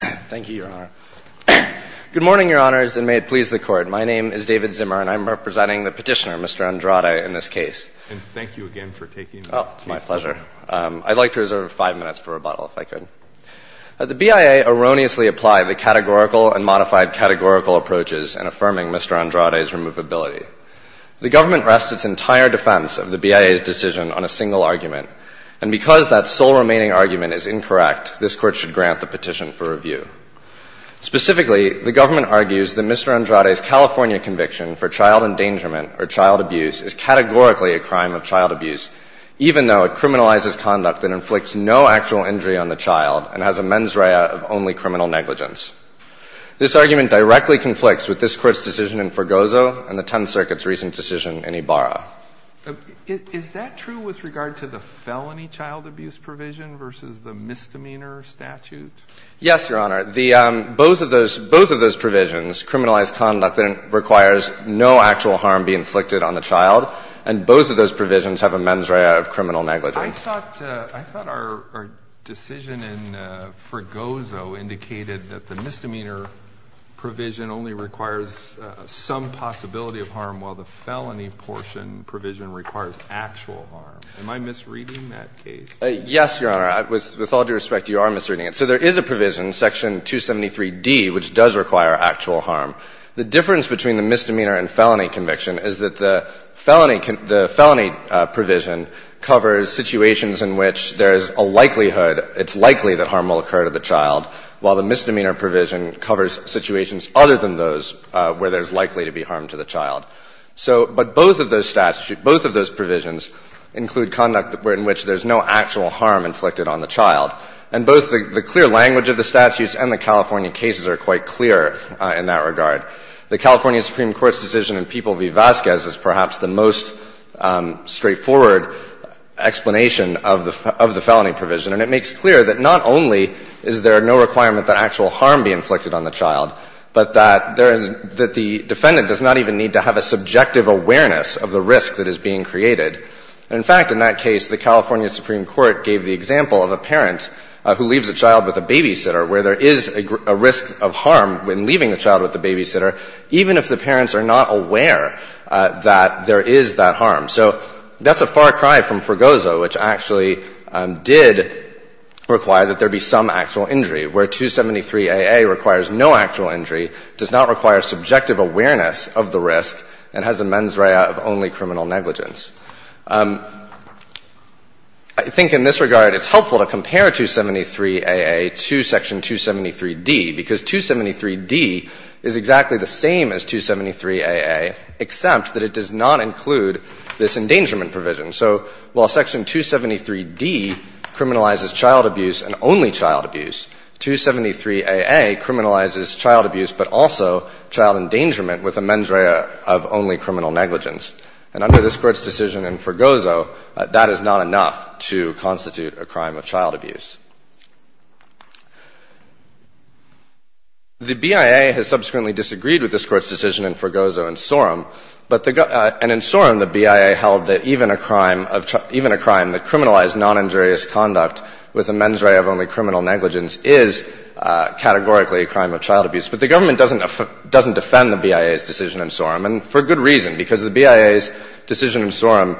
Thank you, Your Honor. Good morning, Your Honors, and may it please the Court. My name is David Zimmer, and I'm representing the petitioner, Mr. Andrade, in this case. And thank you again for taking the case. Oh, it's my pleasure. I'd like to reserve five minutes for rebuttal, if I could. The BIA erroneously applied the categorical and modified categorical approaches in affirming Mr. Andrade's removability. The government rests its entire defense of the BIA's decision on a single argument, and because that sole remaining argument is incorrect, this Court should grant the Specifically, the government argues that Mr. Andrade's California conviction for child endangerment or child abuse is categorically a crime of child abuse, even though it criminalizes conduct that inflicts no actual injury on the child and has a mens rea of only criminal negligence. This argument directly conflicts with this Court's decision in Forgozo and the Tenth Circuit's recent decision in Ibarra. Is that true with regard to the felony child abuse provision versus the misdemeanor statute? Yes, Your Honor. The – both of those – both of those provisions criminalize conduct that requires no actual harm be inflicted on the child, and both of those provisions have a mens rea of criminal negligence. I thought – I thought our decision in Forgozo indicated that the misdemeanor provision only requires some possibility of harm, while the felony portion provision requires actual harm. Am I misreading that case? Yes, Your Honor. With all due respect, you are misreading it. So there is a provision, section 273d, which does require actual harm. The difference between the misdemeanor and felony conviction is that the felony – the felony provision covers situations in which there is a likelihood – it's likely that harm will occur to the child, while the misdemeanor provision covers situations other than those where there's likely to be harm to the child. So – but both of those statute – both of those provisions include conduct in which there's no actual harm inflicted on the child. And both the clear language of the statutes and the California cases are quite clear in that regard. The California Supreme Court's decision in People v. Vasquez is perhaps the most straightforward explanation of the felony provision, and it makes clear that not only is there no requirement that actual harm be inflicted on the child, but that the defendant does not even need to have a subjective awareness of the risk that the California Supreme Court gave the example of a parent who leaves a child with a babysitter, where there is a risk of harm when leaving a child with a babysitter, even if the parents are not aware that there is that harm. So that's a far cry from Fregoso, which actually did require that there be some actual injury, where 273aa requires no actual injury, does not require subjective awareness of the risk, and has a mens rea of only criminal negligence. I think in this regard, it's helpful to compare 273aa to Section 273d, because 273d is exactly the same as 273aa, except that it does not include this endangerment provision. So while Section 273d criminalizes child abuse and only child abuse, 273aa criminalizes child abuse but also child endangerment with a mens rea of only criminal negligence. And under this Court's decision in Fregoso, that is not enough to constitute a crime of child abuse. The BIA has subsequently disagreed with this Court's decision in Fregoso and Sorum, and in Sorum the BIA held that even a crime that criminalized noninjurious conduct with a mens rea of only criminal negligence is categorically a crime of child abuse. And that's the reason, because the BIA's decision in Sorum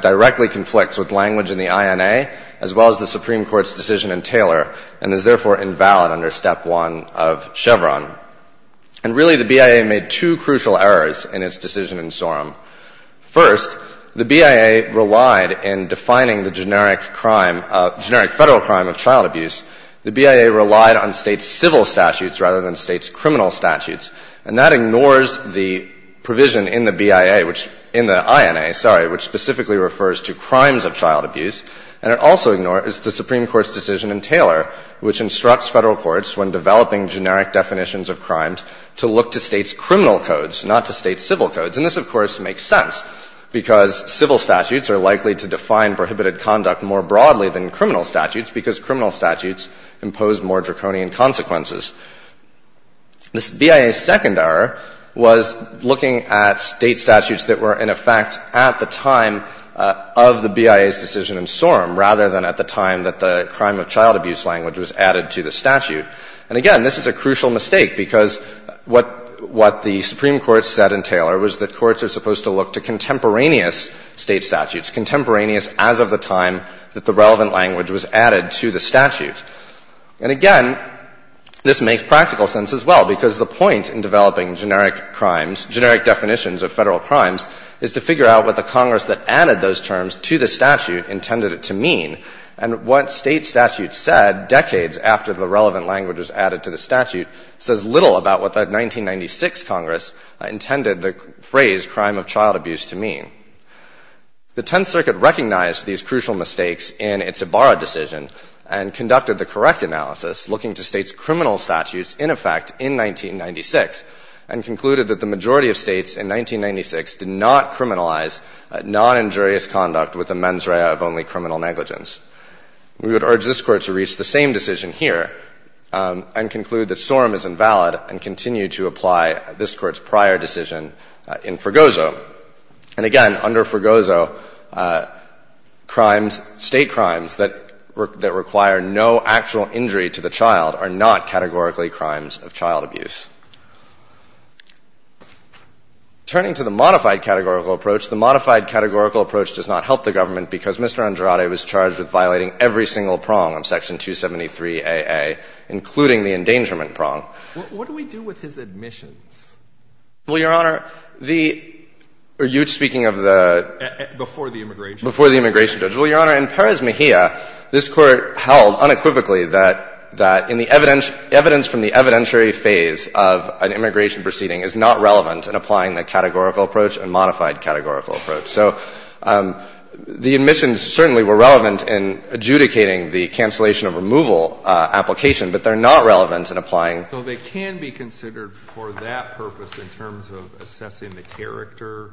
directly conflicts with language in the INA as well as the Supreme Court's decision in Taylor and is therefore invalid under Step 1 of Chevron. And really the BIA made two crucial errors in its decision in Sorum. First, the BIA relied in defining the generic federal crime of child abuse. The BIA relied on States' civil statutes rather than States' criminal statutes. And that ignores the provision in the BIA, which – in the INA, sorry, which specifically refers to crimes of child abuse. And it also ignores the Supreme Court's decision in Taylor, which instructs Federal courts when developing generic definitions of crimes to look to States' criminal codes, not to States' civil codes. And this, of course, makes sense, because civil statutes are likely to define prohibited conduct more broadly than criminal statutes because criminal statutes impose more draconian consequences. The BIA's second error was looking at State statutes that were in effect at the time of the BIA's decision in Sorum, rather than at the time that the crime of child abuse language was added to the statute. And again, this is a crucial mistake because what the Supreme Court said in Taylor was that courts are supposed to look to contemporaneous State statutes, contemporaneous as of the time that the relevant language was added to the statute. And again, this makes practical sense as well, because the point in developing generic crimes, generic definitions of Federal crimes, is to figure out what the Congress that added those terms to the statute intended it to mean. And what State statutes said decades after the relevant language was added to the statute says little about what the 1996 Congress intended the phrase crime of child abuse to mean. The Tenth Circuit recognized these crucial mistakes in its Ibarra decision and conducted the correct analysis, looking to States' criminal statutes in effect in 1996, and concluded that the majority of States in 1996 did not criminalize noninjurious conduct with the mens rea of only criminal negligence. We would urge this Court to reach the same decision here and conclude that Sorum is invalid, and continue to apply this Court's prior decision in Fergozo. And again, under Fergozo, crimes, State crimes that require no actual injury to the child are not categorically crimes of child abuse. Turning to the modified categorical approach, the modified categorical approach does not help the government because Mr. Andrade was charged with violating every single prong of Section 273aA, including the endangerment prong. What do we do with his admissions? Well, Your Honor, the — are you speaking of the — Before the immigration judge. Before the immigration judge. Well, Your Honor, in Perez Mejia, this Court held unequivocally that — that in the evidence — evidence from the evidentiary phase of an immigration proceeding is not relevant in applying the categorical approach and modified categorical approach. So the admissions certainly were relevant in adjudicating the cancellation of removal application, but they're not relevant in applying — So they can be considered for that purpose in terms of assessing the character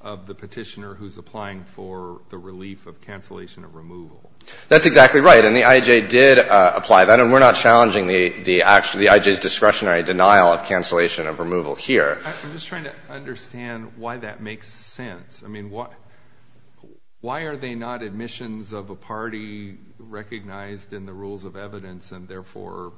of the petitioner who's applying for the relief of cancellation of removal. That's exactly right. And the I.J. did apply that. And we're not challenging the — the I.J.'s discretionary denial of cancellation of removal here. I'm just trying to understand why that makes sense. I mean, why are they not admissions of a party recognized in the rules of evidence and therefore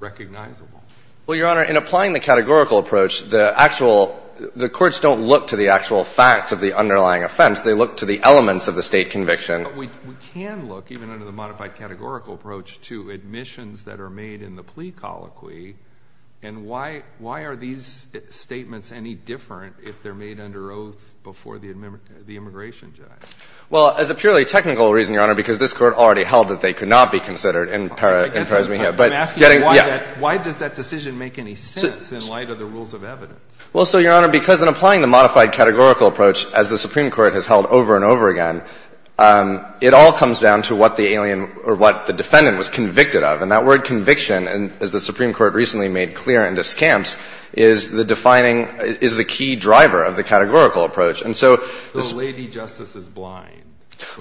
recognizable? Well, Your Honor, in applying the categorical approach, the actual — the courts don't look to the actual facts of the underlying offense. They look to the elements of the state conviction. But we can look, even under the modified categorical approach, to admissions that are made in the plea colloquy. And why — why are these statements any different if they're made under oath before the immigration judge? Well, as a purely technical reason, Your Honor, because this Court already held that they could not be considered in para — in pars me here. But getting — I'm asking why that — why does that decision make any sense in light of the rules of evidence? Well, so, Your Honor, because in applying the modified categorical approach, as the Supreme Court has held over and over again, it all comes down to what the alien or what the defendant was convicted of. And that word conviction, as the Supreme Court has held over and over again, is the key driver of the categorical approach. And so this — So the lady justice is blind?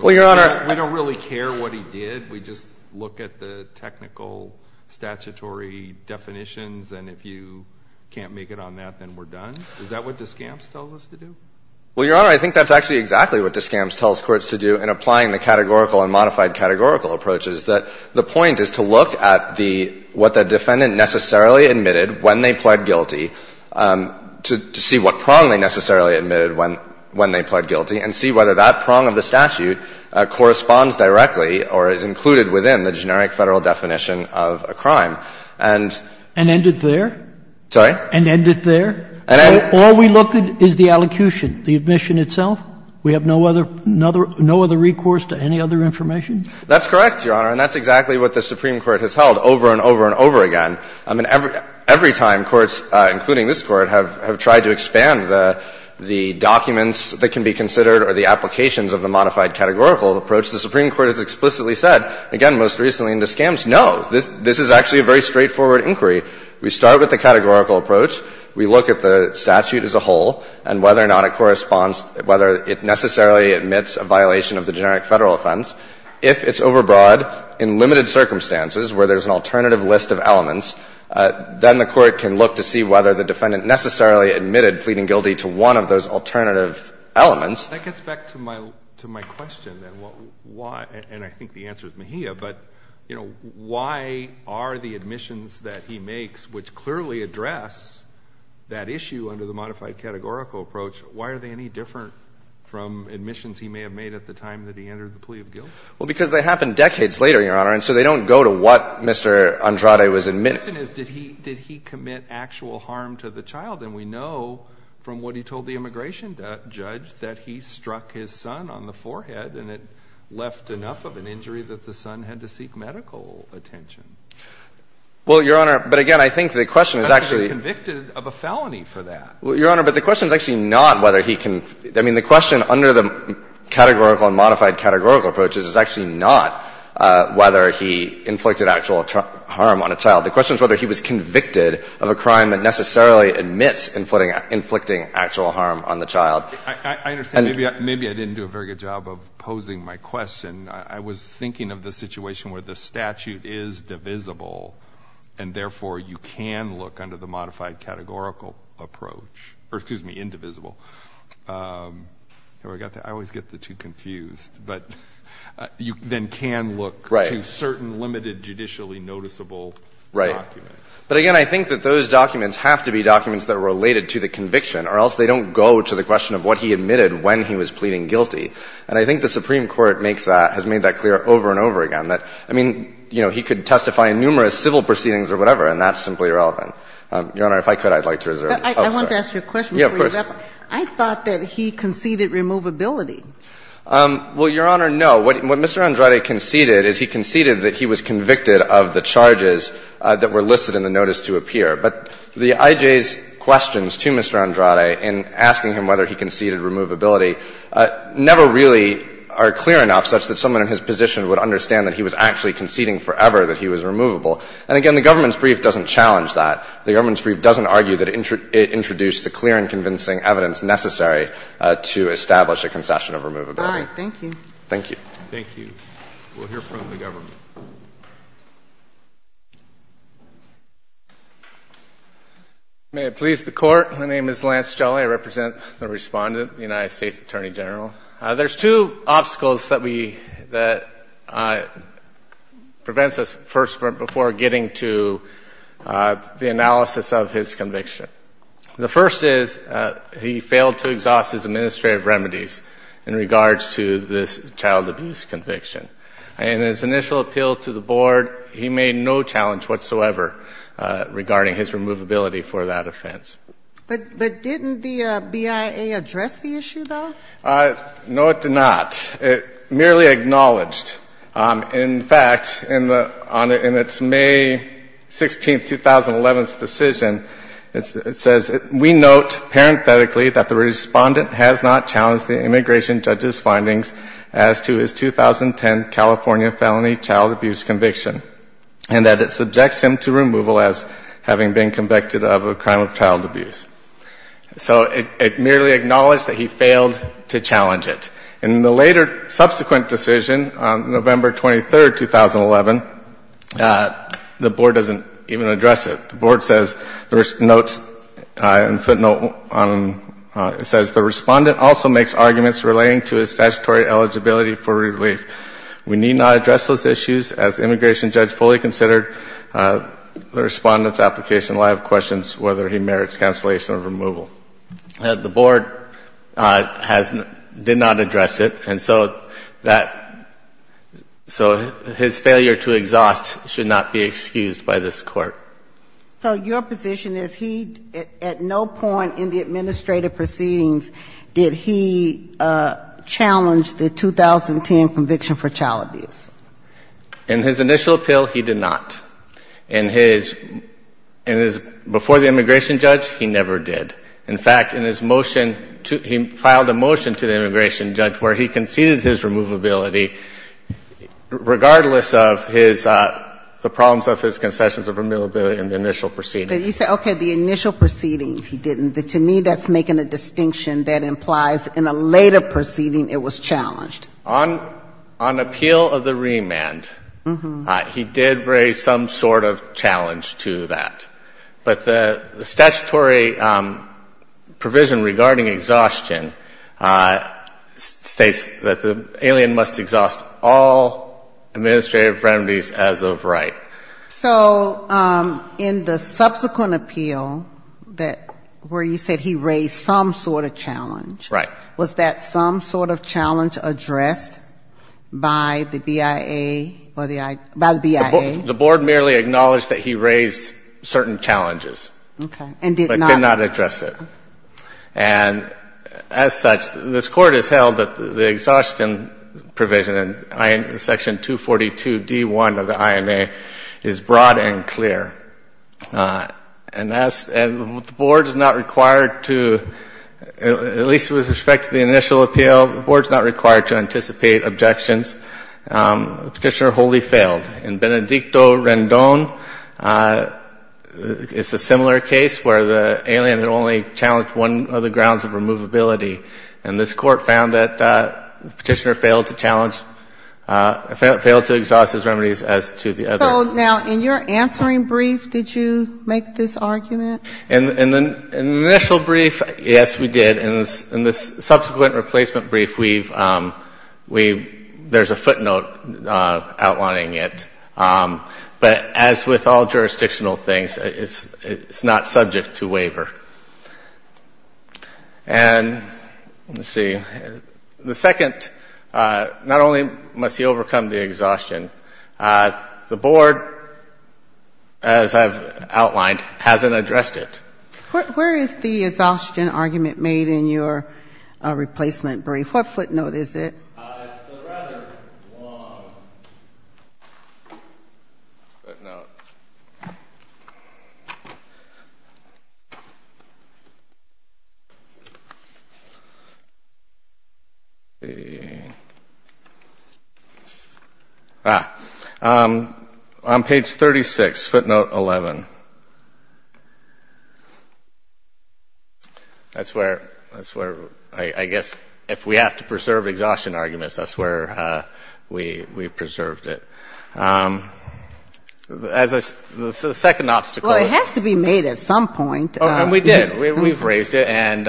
Well, Your Honor — We don't really care what he did. We just look at the technical statutory definitions, and if you can't make it on that, then we're done? Is that what Descamps tells us to do? Well, Your Honor, I think that's actually exactly what Descamps tells courts to do in applying the categorical and modified categorical approaches, that the point is to look at the — what the defendant necessarily admitted when they pled guilty, to see what prong they necessarily admitted when they pled guilty, and see whether that prong of the statute corresponds directly or is included within the generic Federal definition of a crime. And — And end it there? Sorry? And end it there? And end — All we look at is the allocution, the admission itself? We have no other — no other recourse to any other information? That's correct, Your Honor, and that's exactly what the Supreme Court has held over and over and over again. I mean, every time courts, including this Court, have tried to expand the documents that can be considered or the applications of the modified categorical approach, the Supreme Court has explicitly said, again, most recently in Descamps, no, this is actually a very straightforward inquiry. We start with the categorical approach. We look at the statute as a whole and whether or not it corresponds — whether it necessarily admits a violation of the generic Federal offense. If it's overbroad in limited circumstances where there's an alternative list of elements, then the Court can look to see whether the defendant necessarily admitted pleading guilty to one of those alternative elements. That gets back to my — to my question, then, what — why — and I think the answer is Mejia, but, you know, why are the admissions that he makes, which clearly address that issue under the modified categorical approach, why are they any different from admissions he may have made at the time that he entered the plea of guilt? Well, because they happen decades later, Your Honor, and so they don't go to what Mr. Andrade was admitting. The question is, did he — did he commit actual harm to the child? And we know from what he told the immigration judge that he struck his son on the forehead and it left enough of an injury that the son had to seek medical attention. Well, Your Honor, but again, I think the question is actually — He must have been convicted of a felony for that. Well, Your Honor, but the question is actually not whether he can — I mean, the question under the categorical and modified categorical approach is actually not whether he inflicted actual harm on a child. The question is whether he was convicted of a crime that necessarily admits inflicting actual harm on the child. I understand. Maybe I didn't do a very good job of posing my question. I was thinking of the situation where the statute is divisible, and therefore you can look under the modified categorical approach — or excuse me, indivisible. I always get the two confused. But you then can look to certain limited judicially noticeable documents. Right. But again, I think that those documents have to be documents that are related to the conviction, or else they don't go to the question of what he admitted when he was pleading guilty. And I think the Supreme Court makes that — has made that clear over and over again, that — I mean, you know, he could testify in numerous civil proceedings or whatever, and that's simply irrelevant. Your Honor, if I could, I'd like to reserve this. Oh, sorry. I want to ask you a question before you wrap up. Yeah, of course. I thought that he conceded removability. Well, Your Honor, no. What Mr. Andrade conceded is he conceded that he was convicted of the charges that were listed in the notice to appear. But the IJ's questions to Mr. Andrade in asking him whether he conceded removability never really are clear enough such that someone in his position would understand that he was actually conceding forever that he was removable. And again, the government's brief doesn't challenge that. The government's brief doesn't argue that it introduced the clear and convincing evidence necessary to establish a concession of removability. All right. Thank you. Thank you. Thank you. We'll hear from the government. May it please the Court, my name is Lance Jelle. I represent the Respondent, the United States Attorney General. There's two obstacles that we, that prevents us first before getting to the analysis of his conviction. The first is he failed to exhaust his administrative remedies in regards to this child abuse conviction. And in his initial appeal to the Board, he made no challenge whatsoever regarding his removability for that offense. But didn't the BIA address the issue, though? No, it did not. It merely acknowledged. In fact, on its May 16, 2011, decision, it says, we note parenthetically that the Respondent has not challenged the immigration judge's findings as to his 2010 California felony child abuse conviction, and that it subjects him to removal as having been convicted of a crime of child abuse. So it merely acknowledged that he failed to challenge it. And in the later subsequent decision, November 23, 2011, the Board doesn't even address it. The Board says, there's notes, a footnote, it says, the Respondent also makes arguments relating to his statutory eligibility for relief. We need not address those issues as the immigration judge fully considered the Respondent's application. I have questions whether he merits cancellation or removal. The Board has not, did not address it. And so that, so his failure to exhaust should not be excused by this Court. So your position is he, at no point in the administrative proceedings did he challenge the 2010 conviction for child abuse? In his initial appeal, he did not. In his, in his, before the immigration judge, he never did. In fact, in his motion, he filed a motion to the immigration judge where he conceded his removability, regardless of his, the problems of his concessions of removability in the initial proceedings. But you say, okay, the initial proceedings he didn't. To me, that's making a distinction that implies in a later proceeding it was challenged. On appeal of the remand, he did raise some sort of challenge to that. But the statutory provision regarding exhaustion states that the alien must exhaust all administrative remedies as of right. So in the subsequent appeal that, where you said he raised some sort of challenge. Right. Was that some sort of challenge addressed by the BIA or the, by the BIA? The Board merely acknowledged that he raised certain challenges. Okay. But did not address it. And as such, this Court has held that the exhaustion provision in section 242d1 of the INA is broad and clear. And as, and the Board is not required to, at least with respect to the initial appeal, the Board is not required to anticipate objections. Petitioner wholly failed. In Benedicto Rendon, it's a similar case where the alien had only challenged one of the grounds of removability. And this Court found that the Petitioner failed to challenge, failed to exhaust his remedies as to the other. So now, in your answering brief, did you make this argument? In the initial brief, yes, we did. In the subsequent replacement brief, we've, there's a footnote outlining it. But as with all jurisdictional things, it's not subject to waiver. And let's see, the second, not only must he overcome the exhaustion, the Board as I've outlined hasn't addressed it. Where is the exhaustion argument made in your replacement brief? What footnote is it? It's a rather long footnote. Ah, on page 36, footnote 11. That's where, I guess, if we have to preserve exhaustion arguments, that's where we preserved it. As a second obstacle. Well, it has to be made at some point. Oh, and we did. We've raised it. And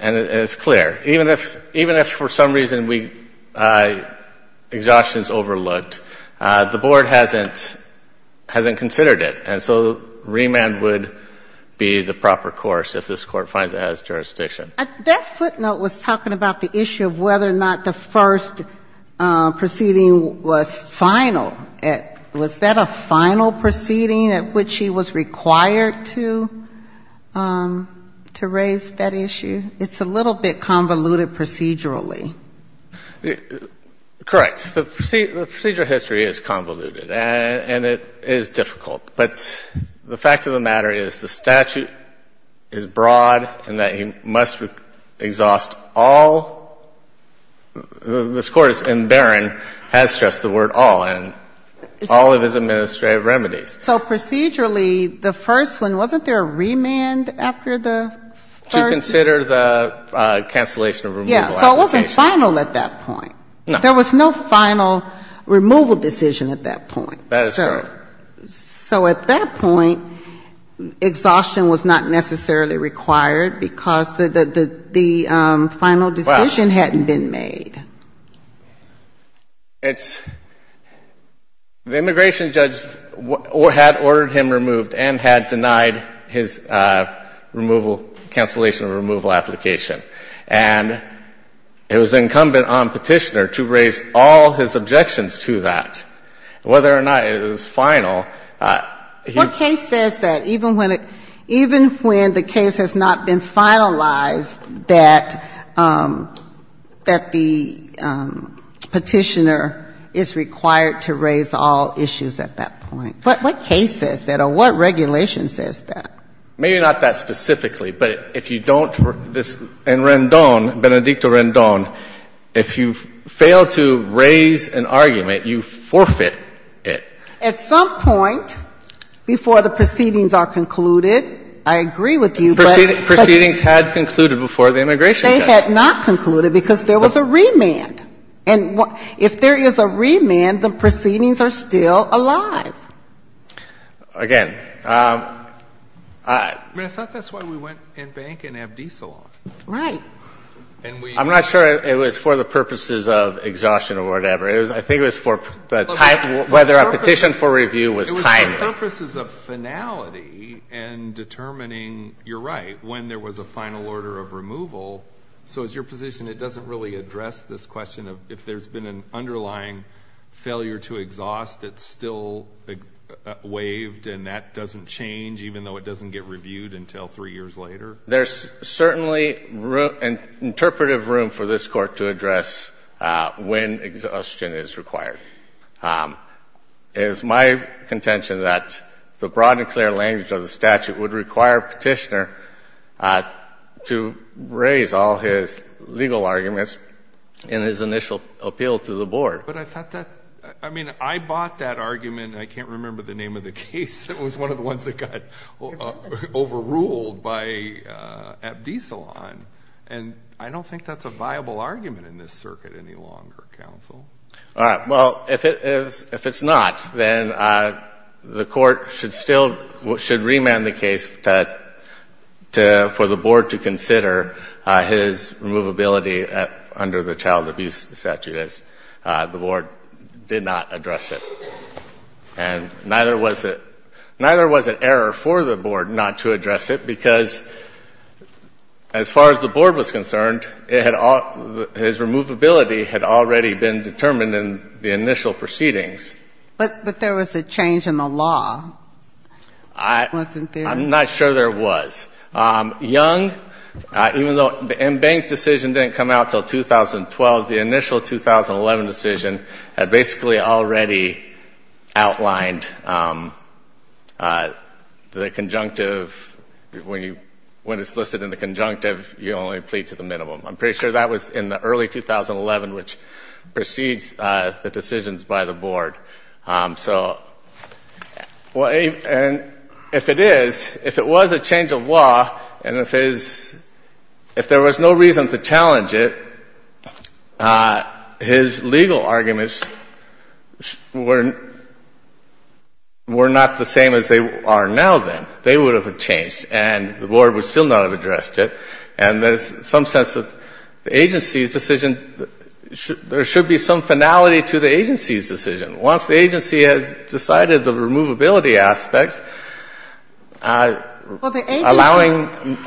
it's clear. Even if for some reason we, exhaustion is overlooked, the Board hasn't considered it. And so remand would be the proper course if this Court finds it has jurisdiction. That footnote was talking about the issue of whether or not the first proceeding was final. Was that a final proceeding at which he was required to, to raise that issue? It's a little bit convoluted procedurally. Correct. The procedural history is convoluted. And it is difficult. But the fact of the matter is the statute is broad and that he must exhaust all, this Court in Barron has stressed the word all, and all of his administrative remedies. So procedurally, the first one, wasn't there a remand after the first? To consider the cancellation of removal application. Yes. So it wasn't final at that point. No. There was no final removal decision at that point. That is correct. So at that point, exhaustion was not necessarily required because the, the, the final decision hadn't been made. It's, the immigration judge had ordered him removed and had denied his removal, cancellation of removal application. And it was incumbent on Petitioner to raise all his objections to that, whether or not it was final. What case says that? Even when it, even when the case has not been finalized, that, that the Petitioner is required to raise all issues at that point? What, what case says that or what regulation says that? Maybe not that specifically, but if you don't, in Rendon, Benedicto Rendon, if you don't have, if you don't have a remand, the Petitioner is required to raise all issues at that point. At some point, before the proceedings are concluded, I agree with you, but. Proceedings had concluded before the immigration judge. They had not concluded because there was a remand. And what ‑‑ if there is a remand, the proceedings are still alive. Again. I mean, I thought that's why we went and banked in Abdi's salon. Right. I'm not sure it was for the purposes of exhaustion or whatever. I think it was for the type, whether a petition for review was timely. It was for purposes of finality and determining, you're right, when there was a final order of removal. So it's your position it doesn't really address this question of if there's been an underlying failure to exhaust, it's still waived and that doesn't change, even though it doesn't get reviewed until three years later? There's certainly interpretive room for this Court to address when exhaustion is required. It is my contention that the broad and clear language of the statute would require Petitioner to raise all his legal arguments in his initial appeal to the Board. But I thought that ‑‑ I mean, I bought that argument. I can't remember the name of the case. It was one of the ones that got overruled by Abdi's salon. And I don't think that's a viable argument in this circuit any longer, counsel. All right. Well, if it's not, then the Court should still ‑‑ should remand the case for the Board to consider his removability under the child abuse statute, as the Board did not address it. And neither was it ‑‑ neither was it error for the Board not to address it, because as far as the Board was concerned, it had all ‑‑ his removability had already been determined in the initial proceedings. But there was a change in the law, wasn't there? I'm not sure there was. Young, even though the embanked decision didn't come out until 2012, the initial 2011 decision had basically already outlined the conjunctive. When you ‑‑ when it's listed in the conjunctive, you only plead to the minimum. I'm pretty sure that was in the early 2011, which precedes the decisions by the Board. So, well, if it is, if it was a change of law and if it is ‑‑ if there was no reason to challenge it, his legal arguments were not the same as they are now, then. They would have changed and the Board would still not have addressed it. And there's some sense that the agency's decision, there should be some finality to the agency's decision. Once the agency has decided the removability aspects, allowing,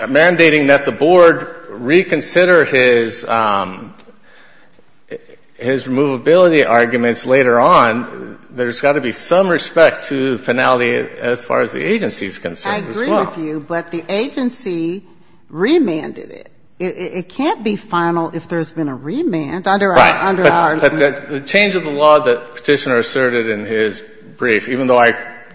mandating that the Board reconsider his removability arguments later on, there's got to be some respect to the finality as far as the agency is concerned as well. I agree with you, but the agency remanded it. It can't be final if there's been a remand under our ‑‑ The Petitioner asserted in his brief, even though I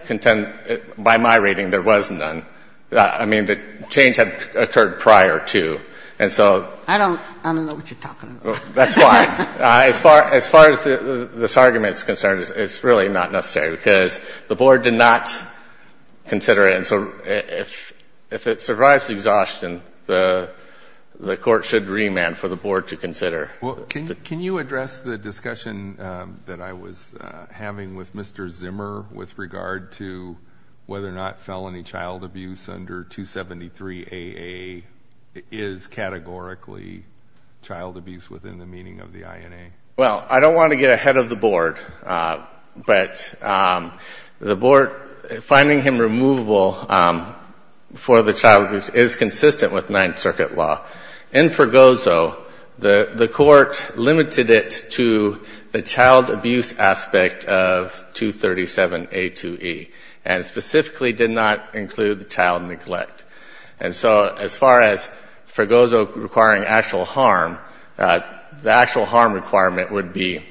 contend, by my reading, there was none. I mean, the change had occurred prior to. And so ‑‑ I don't know what you're talking about. That's why. As far as this argument is concerned, it's really not necessary, because the Board did not consider it. And so if it survives exhaustion, the court should remand for the Board to consider. Can you address the discussion that I was having with Mr. Zimmer with regard to whether or not felony child abuse under 273AA is categorically child abuse within the meaning of the INA? Well, I don't want to get ahead of the Board, but the Board, finding him removable for the child abuse is consistent with Ninth Circuit law. In Fergozo, the court limited it to the child abuse aspect of 237A2E, and specifically did not include the child neglect. And so as far as Fergozo requiring actual harm, the actual harm requirement would be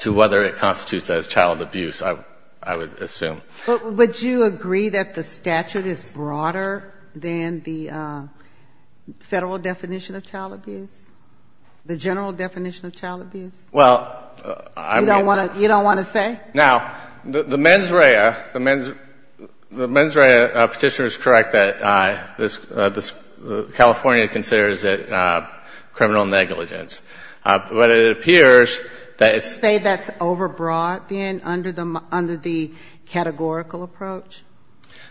to whether it constitutes as child abuse, I would assume. But would you agree that the statute is broader than the Federal definition of child abuse, the general definition of child abuse? Well, I ‑‑ You don't want to say? Now, the mens rea petitioner is correct that California considers it criminal negligence. But it appears that it's ‑‑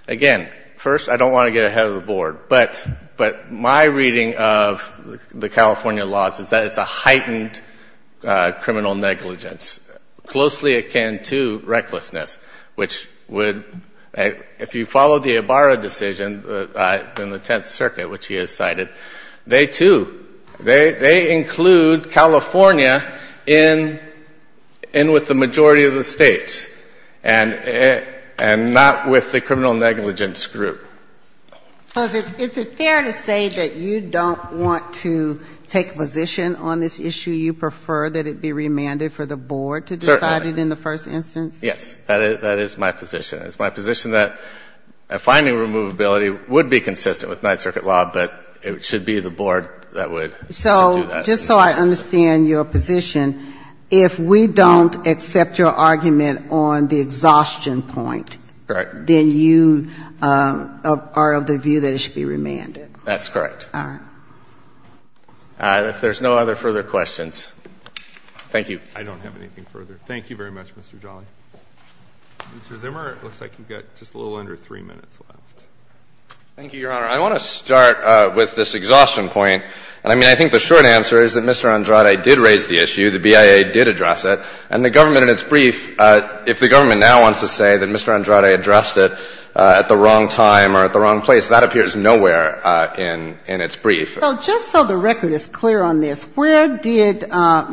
Again, first, I don't want to get ahead of the Board, but my reading of the California laws is that it's a heightened criminal negligence, closely akin to recklessness, which would, if you follow the Ibarra decision in the Tenth Circuit, which he has cited, they too, they include California in with the majority of the states. And not with the criminal negligence group. So is it fair to say that you don't want to take a position on this issue? You prefer that it be remanded for the Board to decide it in the first instance? Certainly. Yes. That is my position. It's my position that finding removability would be consistent with Ninth Circuit law, but it should be the Board that would do that. Just so I understand your position, if we don't accept your argument on the exhaustion point, then you are of the view that it should be remanded. That's correct. All right. If there's no other further questions. Thank you. I don't have anything further. Thank you very much, Mr. Jolly. Mr. Zimmer, it looks like you've got just a little under 3 minutes left. Thank you, Your Honor. I want to start with this exhaustion point. And I mean, I think the short answer is that Mr. Andrade did raise the issue. The BIA did address it. And the government in its brief, if the government now wants to say that Mr. Andrade addressed it at the wrong time or at the wrong place, that appears nowhere in its brief. So just so the record is clear on this, where did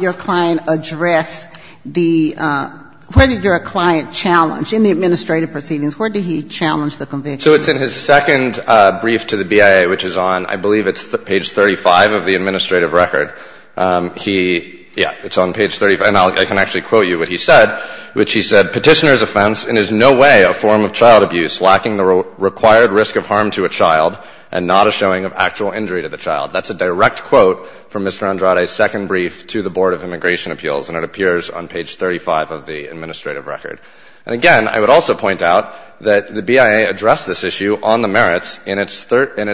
your client address the – where did your client challenge? In the administrative proceedings, where did he challenge the conviction? So it's in his second brief to the BIA, which is on, I believe it's page 35 of the administrative record. He – yeah, it's on page 35. And I can actually quote you what he said, which he said, Petitioner's offense in is no way a form of child abuse lacking the required risk of harm to a child and not a showing of actual injury to the child. That's a direct quote from Mr. Andrade's second brief to the Board of Immigration And it appears on page 35 of the administrative record. And again, I would also point out that the BIA addressed this issue on the merits in its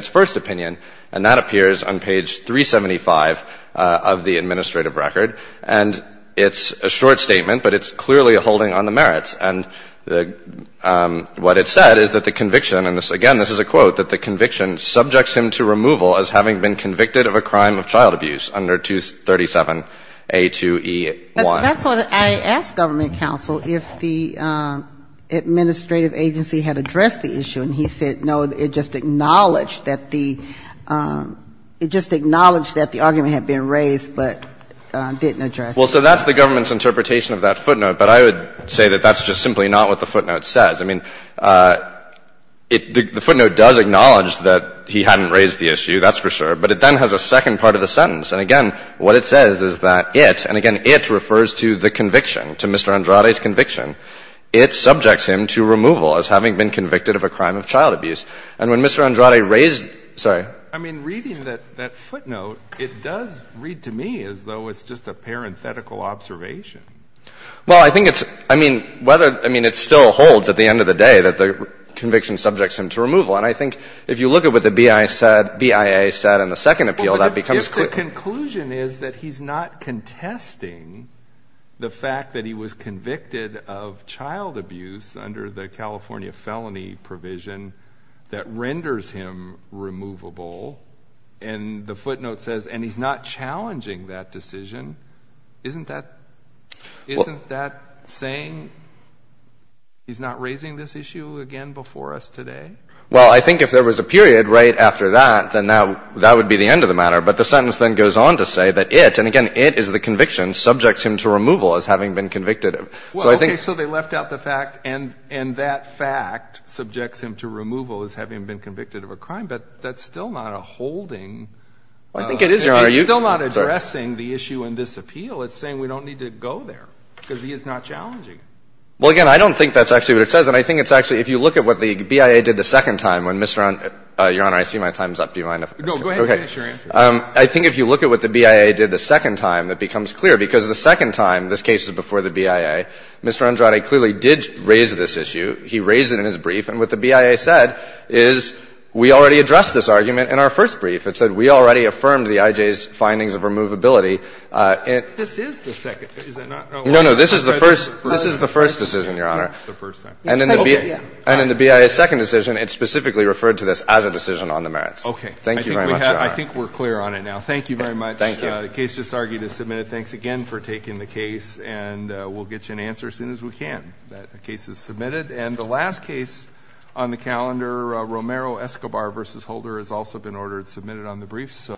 first opinion, and that appears on page 375 of the administrative record. And it's a short statement, but it's clearly holding on the merits. And what it said is that the conviction – and again, this is a quote – that the conviction subjects him to removal as having been convicted of a crime of child abuse under 237A2E1. But that's what I asked government counsel, if the administrative agency had addressed the issue. And he said, no, it just acknowledged that the – it just acknowledged that the argument had been raised but didn't address it. Well, so that's the government's interpretation of that footnote. But I would say that that's just simply not what the footnote says. I mean, it – the footnote does acknowledge that he hadn't raised the issue, that's for sure. But it then has a second part of the sentence. And again, what it says is that it – and again, it refers to the conviction, to Mr. Andrade's conviction – it subjects him to removal as having been convicted of a crime of child abuse. And when Mr. Andrade raised – sorry. I mean, reading that footnote, it does read to me as though it's just a parenthetical observation. Well, I think it's – I mean, whether – I mean, it still holds at the end of the day that the conviction subjects him to removal. And I think if you look at what the BIA said – BIA said in the second appeal, that becomes clear. But if the conclusion is that he's not contesting the fact that he was convicted of child abuse under the California felony provision that renders him removable, and the footnote says – and he's not challenging that decision, isn't that – isn't that saying he's not raising this issue again before us today? Well, I think if there was a period right after that, then that would be the end of the matter. But the sentence then goes on to say that it – and again, it is the conviction – subjects him to removal as having been convicted of. So I think – Well, okay. So they left out the fact – and that fact subjects him to removal as having been convicted of a crime. But that's still not a holding. I think it is, Your Honor. It's still not addressing the issue in this appeal. It's saying we don't need to go there because he is not challenging. Well, again, I don't think that's actually what it says. And I think it's actually – if you look at what the BIA did the second time when Mr. Andrade – Your Honor, I see my time's up. Do you mind if I finish? No, go ahead and finish your answer. I think if you look at what the BIA did the second time, it becomes clear. Because the second time, this case was before the BIA, Mr. Andrade clearly did raise this issue. He raised it in his brief. And what the BIA said is we already addressed this argument in our first brief. It said we already affirmed the IJ's findings of removability. This is the second – is it not? No, no. This is the first – this is the first decision, Your Honor. The first time. And in the BIA's second decision, it specifically referred to this as a decision on the merits. Okay. Thank you very much, Your Honor. I think we're clear on it now. Thank you very much. Thank you. The case just argued is submitted. Thanks again for taking the case. And we'll get you an answer as soon as we can. The case is submitted. And the last case on the calendar, Romero-Escobar v. Holder, has also been ordered submitted on the brief.